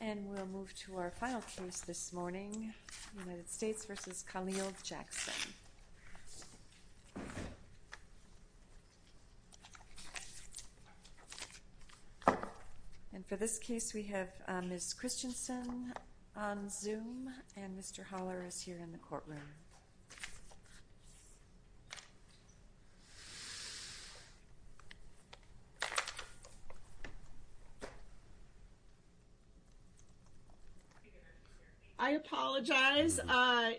And we'll move to our final case this morning, United States v. Khalil Jackson. And for this case we have Ms. Christensen on Zoom, and Mr. Holler is here in the courtroom. I apologize.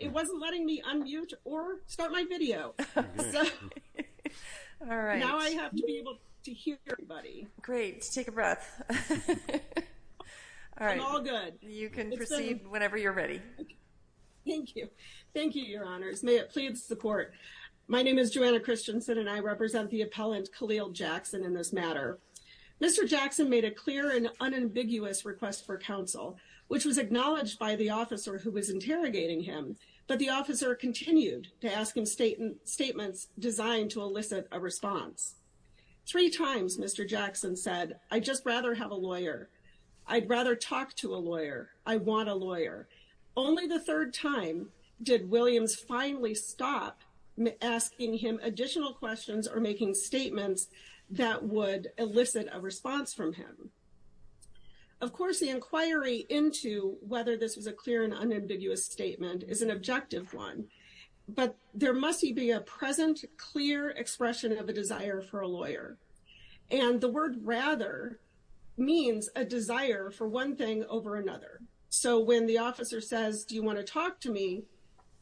It wasn't letting me unmute or start my video. All right. Now I have to be able to hear everybody. Great. Take a breath. All right. I'm all good. You can proceed whenever you're ready. Thank you. Thank you, Your Honors. May it please the court. My name is Joanna Christensen, and I represent the appellant Khalil Jackson in this matter. Mr. Jackson made a clear and unambiguous request for counsel, which was acknowledged by the officer who was interrogating him. But the officer continued to ask him statements designed to elicit a response. Three times Mr. Jackson said, I'd just rather have a lawyer. I'd rather talk to a lawyer. I want a lawyer. Only the third time did Williams finally stop asking him additional questions or making statements that would elicit a response from him. Of course, the inquiry into whether this was a clear and unambiguous statement is an objective one. But there must be a present clear expression of a desire for a lawyer. And the word rather means a desire for one thing over another. So when the officer says, do you want to talk to me?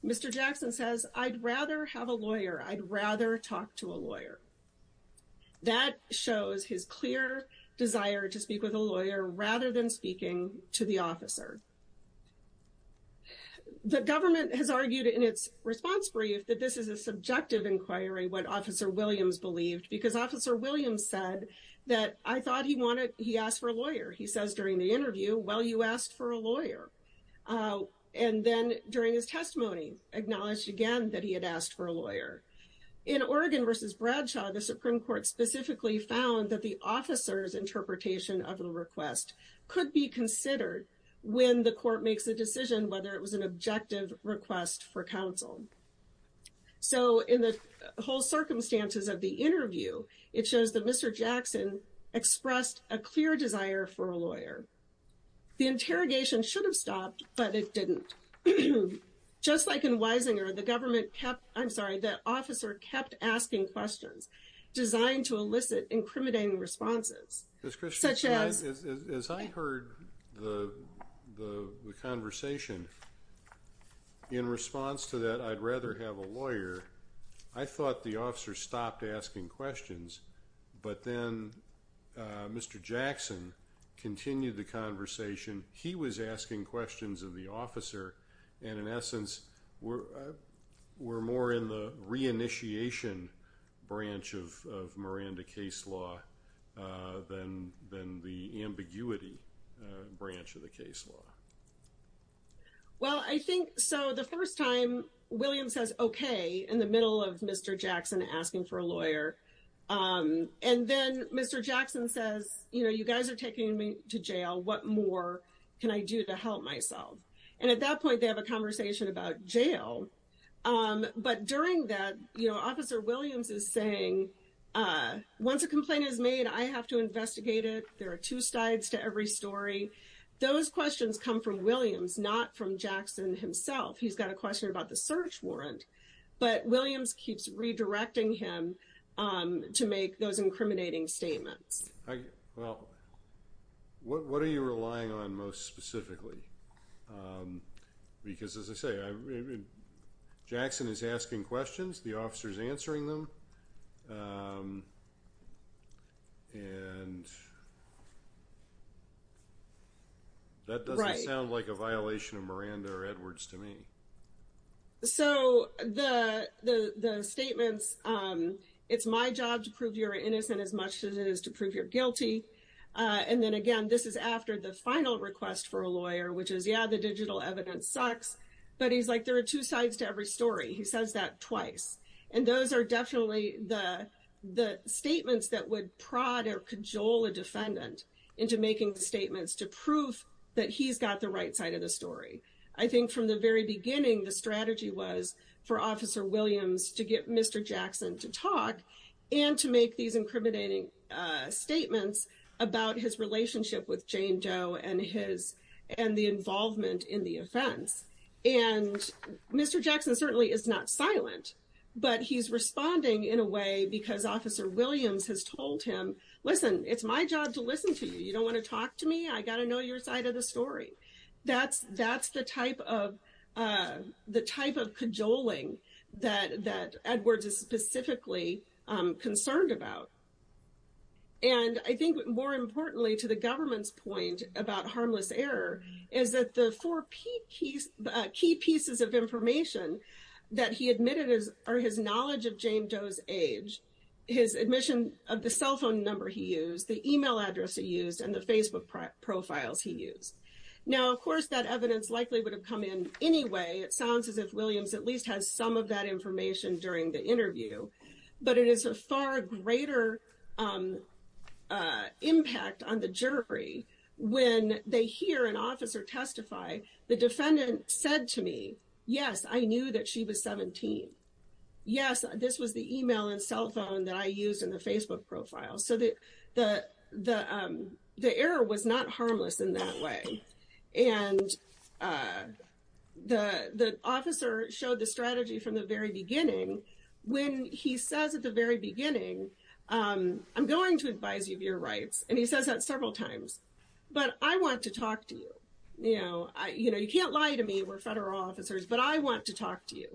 Mr. Jackson says, I'd rather have a lawyer. I'd rather talk to a lawyer. That shows his clear desire to speak with a lawyer rather than speaking to the officer. The government has argued in its response brief that this is a subjective inquiry, what Officer Williams believed. Because Officer Williams said that I thought he wanted he asked for a lawyer. He says during the interview, well, you asked for a lawyer. And then during his testimony, acknowledged again that he had asked for a lawyer. In Oregon v. Bradshaw, the Supreme Court specifically found that the officer's interpretation of the request could be considered when the court makes a decision whether it was an objective request for counsel. So in the whole circumstances of the interview, it shows that Mr. Jackson expressed a clear desire for a lawyer. The interrogation should have stopped, but it didn't. Just like in Wisinger, the government kept, I'm sorry, the officer kept asking questions designed to elicit incriminating responses. As I heard the conversation, in response to that, I'd rather have a lawyer, I thought the officer stopped asking questions. But then Mr. Jackson continued the conversation. He was asking questions of the officer. And in essence, we're more in the reinitiation branch of Miranda case law than the ambiguity branch of the case law. Well, I think so. The first time William says, okay, in the middle of Mr. Jackson asking for a lawyer. And then Mr. Jackson says, you know, you guys are taking me to jail. What more can I do to help myself? And at that point, they have a conversation about jail. But during that, you know, Officer Williams is saying, once a complaint is made, I have to investigate it. There are two sides to every story. Those questions come from Williams, not from Jackson himself. He's got a question about the search warrant. But Williams keeps redirecting him to make those incriminating statements. Well, what are you relying on most specifically? Because as I say, Jackson is asking questions, the officer is answering them. And that doesn't sound like a violation of Miranda or Edwards to me. So the statements, it's my job to prove you're innocent as much as it is to prove you're guilty. And then again, this is after the final request for a lawyer, which is, yeah, the digital evidence sucks. But he's like, there are two sides to every story. He says that twice. And those are definitely the statements that would prod or cajole a defendant into making the statements to prove that he's got the right side of the story. I think from the very beginning, the strategy was for Officer Williams to get Mr. Jackson to talk and to make these incriminating statements about his relationship with Jane Doe and the involvement in the offense. And Mr. Jackson certainly is not silent. But he's responding in a way because Officer Williams has told him, listen, it's my job to listen to you. You don't want to talk to me? I got to know your side of the story. That's the type of cajoling that Edwards is specifically concerned about. And I think more importantly, to the government's point about harmless error, is that the four key pieces of information that he admitted are his knowledge of Jane Doe's age, his admission of the cell phone number he used, the email address he used, and the Facebook profiles he used. Now, of course, that evidence likely would have come in anyway. It sounds as if Williams at least has some of that information during the interview. But it is a far greater impact on the jury when they hear an officer testify, the defendant said to me, yes, I knew that she was 17. Yes, this was the email and cell phone that I used in the Facebook profile. So the error was not harmless in that way. And the officer showed the strategy from the very beginning when he says at the very beginning, I'm going to advise you of your rights. And he says that several times. But I want to talk to you. You know, you can't lie to me. We're federal officers. But I want to talk to you.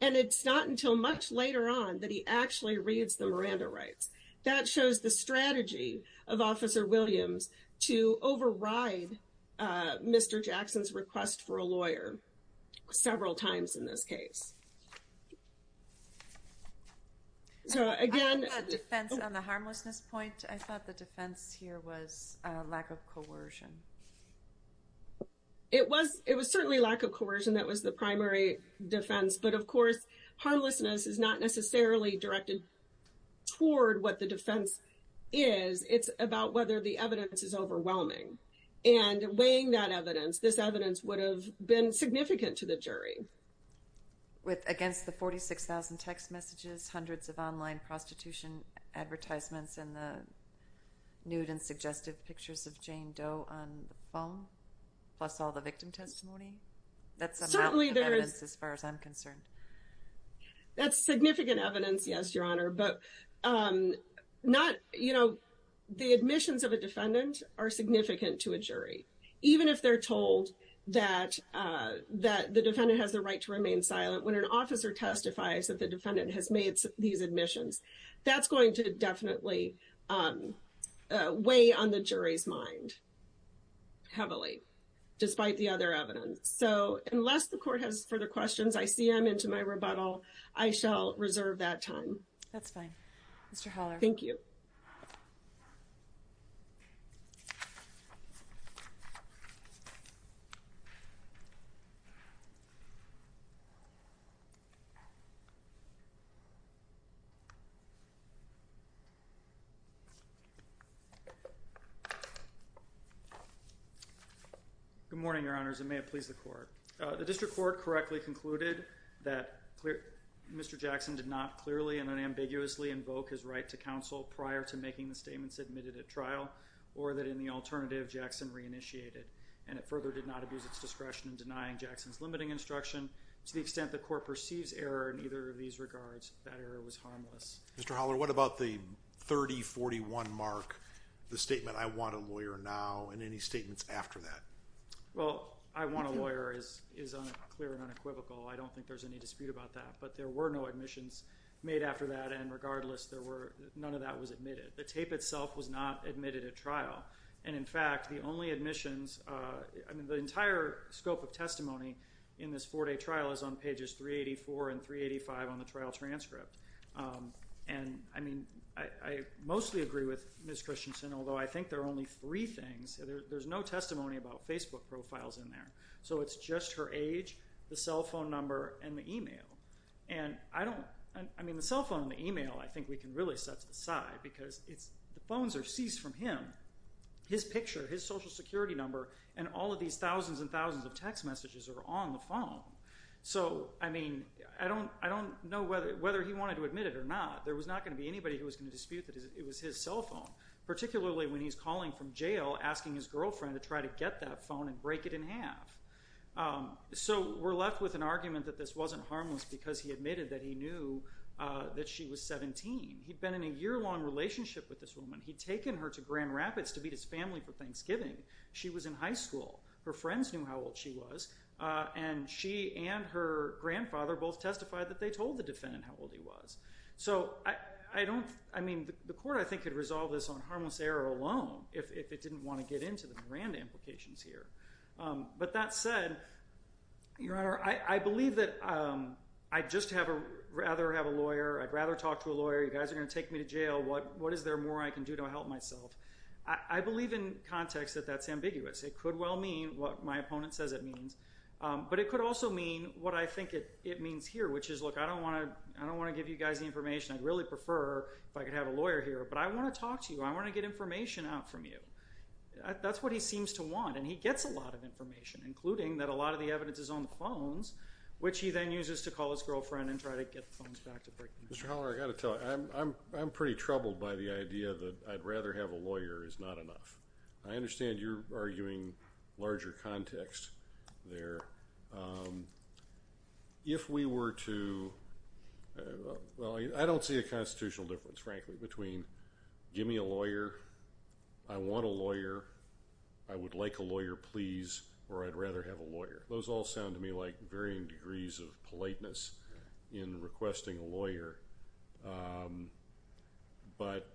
And it's not until much later on that he actually reads the Miranda rights. That shows the strategy of Officer Williams to override Mr. Jackson's request for a lawyer several times in this case. So again... I love that defense on the harmlessness point. I thought the defense here was lack of coercion. It was certainly lack of coercion. That was the primary defense. But of course, harmlessness is not necessarily directed toward what the defense is. It's about whether the evidence is overwhelming. And weighing that evidence, this evidence would have been significant to the jury. Against the 46,000 text messages, hundreds of online prostitution advertisements, and the nude and suggestive pictures of Jane Doe on the phone? Plus all the victim testimony? That's a lot of evidence as far as I'm concerned. That's significant evidence, yes, Your Honor. But the admissions of a defendant are significant to a jury. Even if they're told that the defendant has the right to remain silent. When an officer testifies that the defendant has made these admissions, that's going to definitely weigh on the jury's mind. Heavily. Despite the other evidence. So, unless the court has further questions, I see I'm into my rebuttal. I shall reserve that time. That's fine. Mr. Haller. Thank you. Good morning, Your Honors, and may it please the court. The district court correctly concluded that Mr. Jackson did not clearly and unambiguously invoke his right to counsel prior to making the statements admitted at trial. Or that in the alternative, Jackson reinitiated. And it further did not abuse its discretion in denying Jackson's limiting instruction. To the extent the court perceives error in either of these regards, that error was harmless. Mr. Haller, what about the 3041 mark, the statement, I want a lawyer now, and any statements after that? Well, I want a lawyer is clear and unequivocal. I don't think there's any dispute about that. But there were no admissions made after that, and regardless, none of that was admitted. The tape itself was not admitted at trial. And, in fact, the only admissions, I mean, the entire scope of testimony in this four-day trial is on pages 384 and 385 on the trial transcript. And, I mean, I mostly agree with Ms. Christensen, although I think there are only three things. There's no testimony about Facebook profiles in there. So it's just her age, the cell phone number, and the e-mail. And I don't, I mean, the cell phone and the e-mail I think we can really set aside because the phones are seized from him. His picture, his social security number, and all of these thousands and thousands of text messages are on the phone. So, I mean, I don't know whether he wanted to admit it or not. There was not going to be anybody who was going to dispute that it was his cell phone, particularly when he's calling from jail asking his girlfriend to try to get that phone and break it in half. So we're left with an argument that this wasn't harmless because he admitted that he knew that she was 17. He'd been in a year-long relationship with this woman. He'd taken her to Grand Rapids to meet his family for Thanksgiving. She was in high school. Her friends knew how old she was. And she and her grandfather both testified that they told the defendant how old he was. So I don't, I mean, the court I think could resolve this on harmless error alone if it didn't want to get into the grand implications here. But that said, Your Honor, I believe that I'd just have a, rather have a lawyer. I'd rather talk to a lawyer. You guys are going to take me to jail. What is there more I can do to help myself? I believe in context that that's ambiguous. It could well mean what my opponent says it means. But it could also mean what I think it means here, which is, look, I don't want to give you guys the information. I'd really prefer if I could have a lawyer here. But I want to talk to you. I want to get information out from you. That's what he seems to want, and he gets a lot of information, including that a lot of the evidence is on the phones, which he then uses to call his girlfriend and try to get the phones back to break them in half. Mr. Haller, I've got to tell you, I'm pretty troubled by the idea that I'd rather have a lawyer is not enough. I understand you're arguing larger context there. If we were to, well, I don't see a constitutional difference, frankly, between give me a lawyer, I want a lawyer, I would like a lawyer, please, or I'd rather have a lawyer. Those all sound to me like varying degrees of politeness in requesting a lawyer. But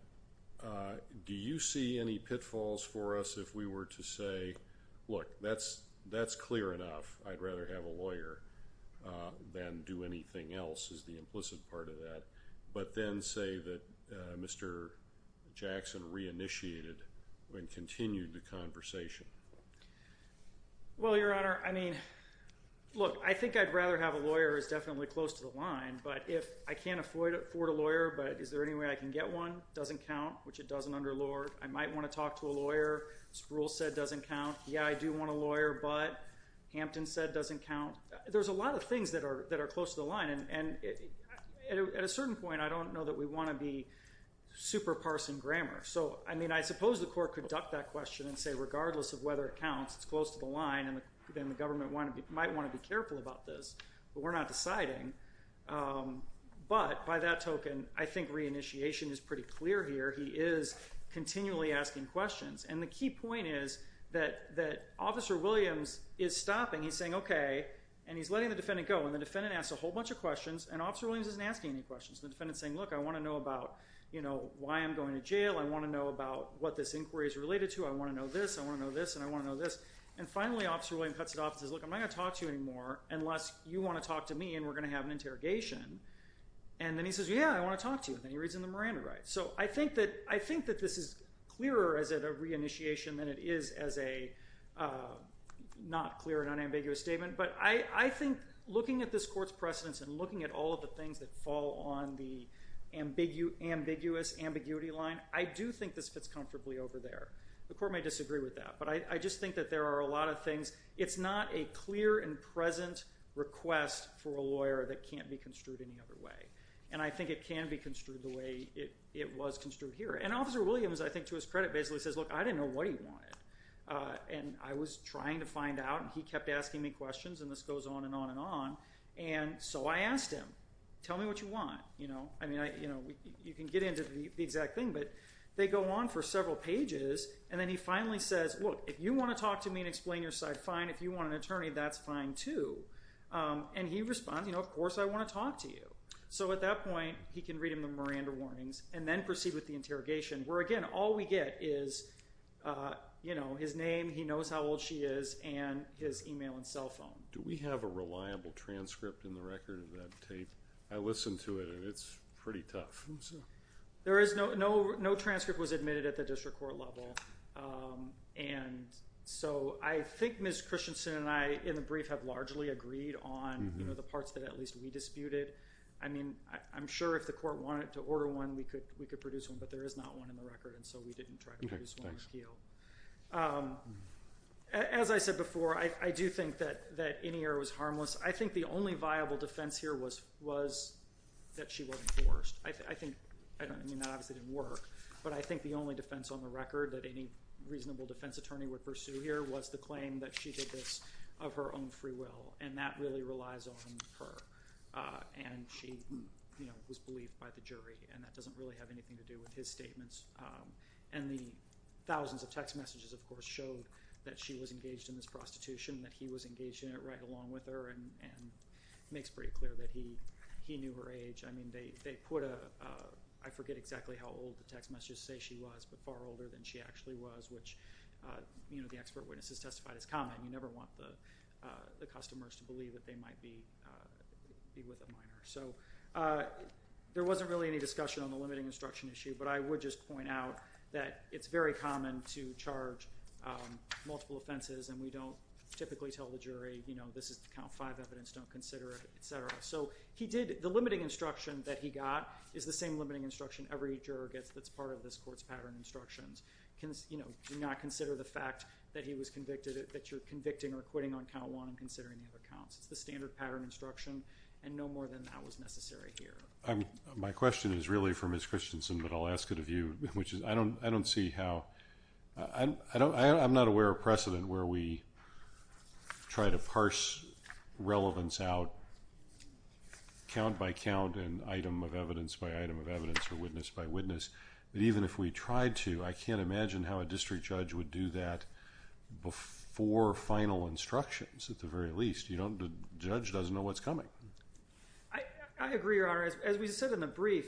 do you see any pitfalls for us if we were to say, look, that's clear enough. I'd rather have a lawyer than do anything else is the implicit part of that, but then say that Mr. Jackson reinitiated and continued the conversation. Well, Your Honor, I mean, look, I think I'd rather have a lawyer is definitely close to the line, but if I can't afford a lawyer, but is there any way I can get one? Doesn't count, which it doesn't under Lord. I might want to talk to a lawyer. Sproul said doesn't count. Yeah, I do want a lawyer, but Hampton said doesn't count. There's a lot of things that are close to the line, and at a certain point, I don't know that we want to be super parsing grammar. So, I mean, I suppose the court could duck that question and say regardless of whether it counts, it's close to the line, then the government might want to be careful about this, but we're not deciding. But by that token, I think reinitiation is pretty clear here. He is continually asking questions, and the key point is that Officer Williams is stopping. He's saying, okay, and he's letting the defendant go, and the defendant asks a whole bunch of questions, and Officer Williams isn't asking any questions. The defendant's saying, look, I want to know about why I'm going to jail. I want to know about what this inquiry is related to. I want to know this. I want to know this, and I want to know this. And finally, Officer Williams cuts it off and says, look, I'm not going to talk to you anymore unless you want to talk to me, and we're going to have an interrogation, and then he says, yeah, I want to talk to you, and then he reads in the Miranda right. So I think that this is clearer as a reinitiation than it is as a not clear and unambiguous statement, but I think looking at this court's precedence and looking at all of the things that fall on the ambiguous ambiguity line, I do think this fits comfortably over there. The court may disagree with that, but I just think that there are a lot of things. It's not a clear and present request for a lawyer that can't be construed any other way, and I think it can be construed the way it was construed here, and Officer Williams, I think, to his credit, basically says, look, I didn't know what he wanted, and I was trying to find out, and he kept asking me questions, and this goes on and on and on, and so I asked him, tell me what you want. You can get into the exact thing, but they go on for several pages, and then he finally says, look, if you want to talk to me and explain your side, fine. If you want an attorney, that's fine, too, and he responds, of course I want to talk to you. So at that point, he can read in the Miranda warnings and then proceed with the interrogation, where, again, all we get is his name, he knows how old she is, and his email and cell phone. Do we have a reliable transcript in the record of that tape? I listened to it, and it's pretty tough. There is no transcript was admitted at the district court level, and so I think Ms. Christensen and I in the brief have largely agreed on the parts that at least we disputed. I mean, I'm sure if the court wanted to order one, we could produce one, but there is not one in the record, and so we didn't try to produce one in the appeal. As I said before, I do think that Inier was harmless. I think the only viable defense here was that she wasn't forced. I mean, that obviously didn't work, but I think the only defense on the record that any reasonable defense attorney would pursue here was the claim that she did this of her own free will, and that really relies on her, and she was believed by the jury, and that doesn't really have anything to do with his statements. And the thousands of text messages, of course, showed that she was engaged in this prostitution, that he was engaged in it right along with her, and it makes pretty clear that he knew her age. I mean, they put a—I forget exactly how old the text messages say she was, but far older than she actually was, which the expert witnesses testified as common. You never want the customers to believe that they might be with a minor. So there wasn't really any discussion on the limiting instruction issue, but I would just point out that it's very common to charge multiple offenses, and we don't typically tell the jury, you know, this is the count five evidence, don't consider it, et cetera. So he did—the limiting instruction that he got is the same limiting instruction every juror gets that's part of this court's pattern instructions. Do not consider the fact that he was convicted that you're convicting or quitting on count one and considering the other counts. It's the standard pattern instruction, and no more than that was necessary here. My question is really for Ms. Christensen, but I'll ask it of you, which is I don't see how— I'm not aware of precedent where we try to parse relevance out count by count and item of evidence by item of evidence or witness by witness. But even if we tried to, I can't imagine how a district judge would do that before final instructions at the very least. You know, the judge doesn't know what's coming. I agree, Your Honor. As we said in the brief,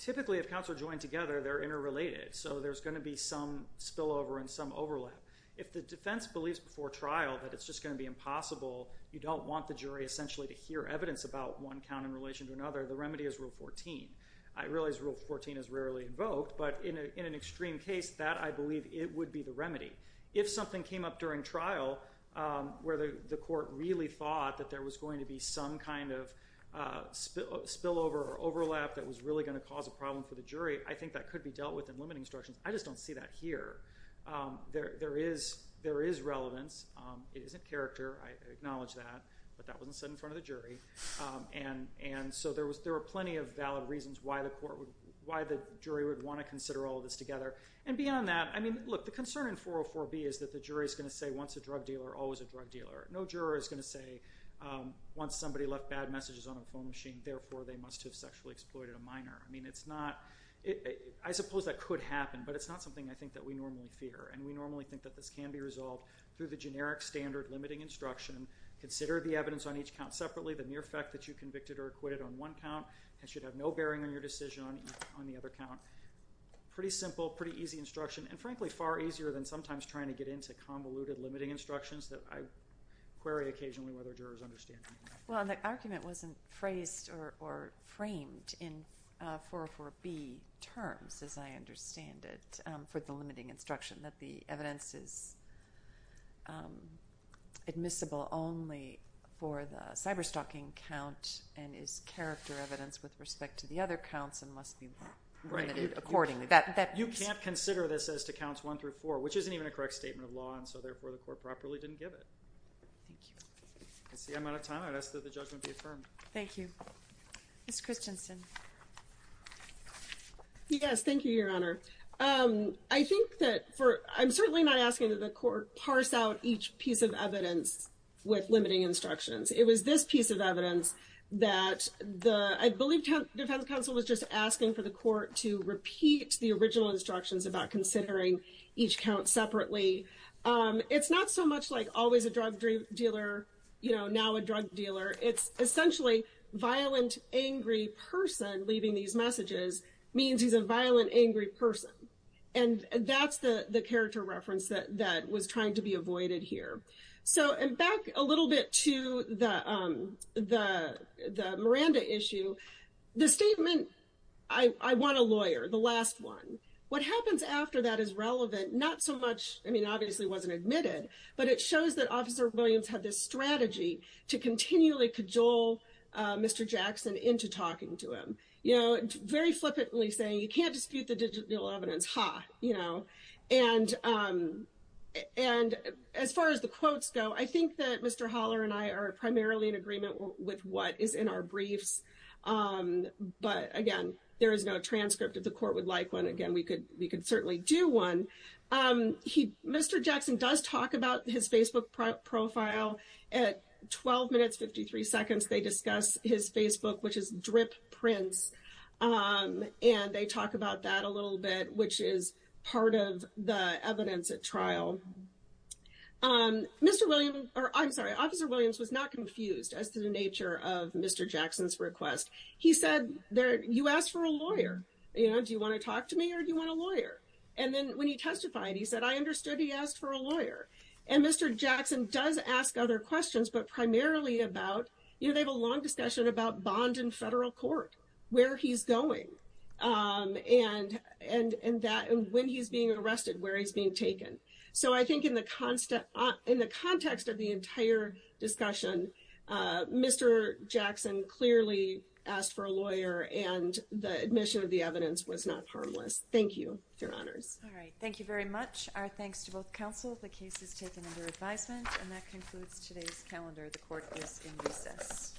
typically if counts are joined together, they're interrelated. So there's going to be some spillover and some overlap. If the defense believes before trial that it's just going to be impossible, you don't want the jury essentially to hear evidence about one count in relation to another, the remedy is Rule 14. I realize Rule 14 is rarely invoked, but in an extreme case, that, I believe, it would be the remedy. If something came up during trial where the court really thought that there was going to be some kind of spillover or overlap that was really going to cause a problem for the jury, I think that could be dealt with in limiting instructions. I just don't see that here. There is relevance. It isn't character. I acknowledge that. But that wasn't said in front of the jury. And so there were plenty of valid reasons why the jury would want to consider all of this together. And beyond that, I mean, look, the concern in 404B is that the jury is going to say, once a drug dealer, always a drug dealer. No juror is going to say, once somebody left bad messages on a phone machine, therefore they must have sexually exploited a minor. I suppose that could happen, but it's not something I think that we normally fear. And we normally think that this can be resolved through the generic standard limiting instruction. Consider the evidence on each count separately. The mere fact that you convicted or acquitted on one count should have no bearing on your decision on the other count. Pretty simple, pretty easy instruction, and frankly far easier than sometimes trying to get into convoluted limiting instructions that I query occasionally whether jurors understand. Well, the argument wasn't phrased or framed in 404B terms, as I understand it, for the limiting instruction that the evidence is admissible only for the cyberstalking count and is character evidence with respect to the other counts and must be limited accordingly. You can't consider this as to counts one through four, which isn't even a correct statement of law, and so therefore the court properly didn't give it. Thank you. That's the amount of time I'd ask that the judgment be affirmed. Thank you. Ms. Christensen. Yes, thank you, Your Honor. I think that for, I'm certainly not asking that the court parse out each piece of evidence with limiting instructions. It was this piece of evidence that I believe defense counsel was just asking for the court to repeat the original instructions about considering each count separately. It's not so much like always a drug dealer, you know, now a drug dealer. It's essentially violent, angry person leaving these messages means he's a violent, angry person, and that's the character reference that was trying to be avoided here. So back a little bit to the Miranda issue. The statement, I want a lawyer, the last one. What happens after that is relevant, not so much, I mean, obviously wasn't admitted, but it shows that Officer Williams had this strategy to continually cajole Mr. Jackson into talking to him, you know, very flippantly saying you can't dispute the digital evidence, ha, you know. And as far as the quotes go, I think that Mr. Holler and I are primarily in agreement with what is in our briefs. But again, there is no transcript if the court would like one. Again, we could certainly do one. Mr. Jackson does talk about his Facebook profile at 12 minutes 53 seconds. They discuss his Facebook, which is Drip Prince, and they talk about that a little bit, which is part of the evidence at trial. Mr. Williams, or I'm sorry, Officer Williams was not confused as to the nature of Mr. Jackson's request. He said, you asked for a lawyer, you know, do you want to talk to me or do you want a lawyer? And then when he testified, he said, I understood he asked for a lawyer. And Mr. Jackson does ask other questions, but primarily about, you know, they have a long discussion about bond in federal court, where he's going. And when he's being arrested, where he's being taken. So I think in the context of the entire discussion, Mr. Jackson clearly asked for a lawyer, and the admission of the evidence was not harmless. Thank you. Your honors. All right. Thank you very much. Our thanks to both counsel. The case is taken under advisement, and that concludes today's calendar. The court is in recess.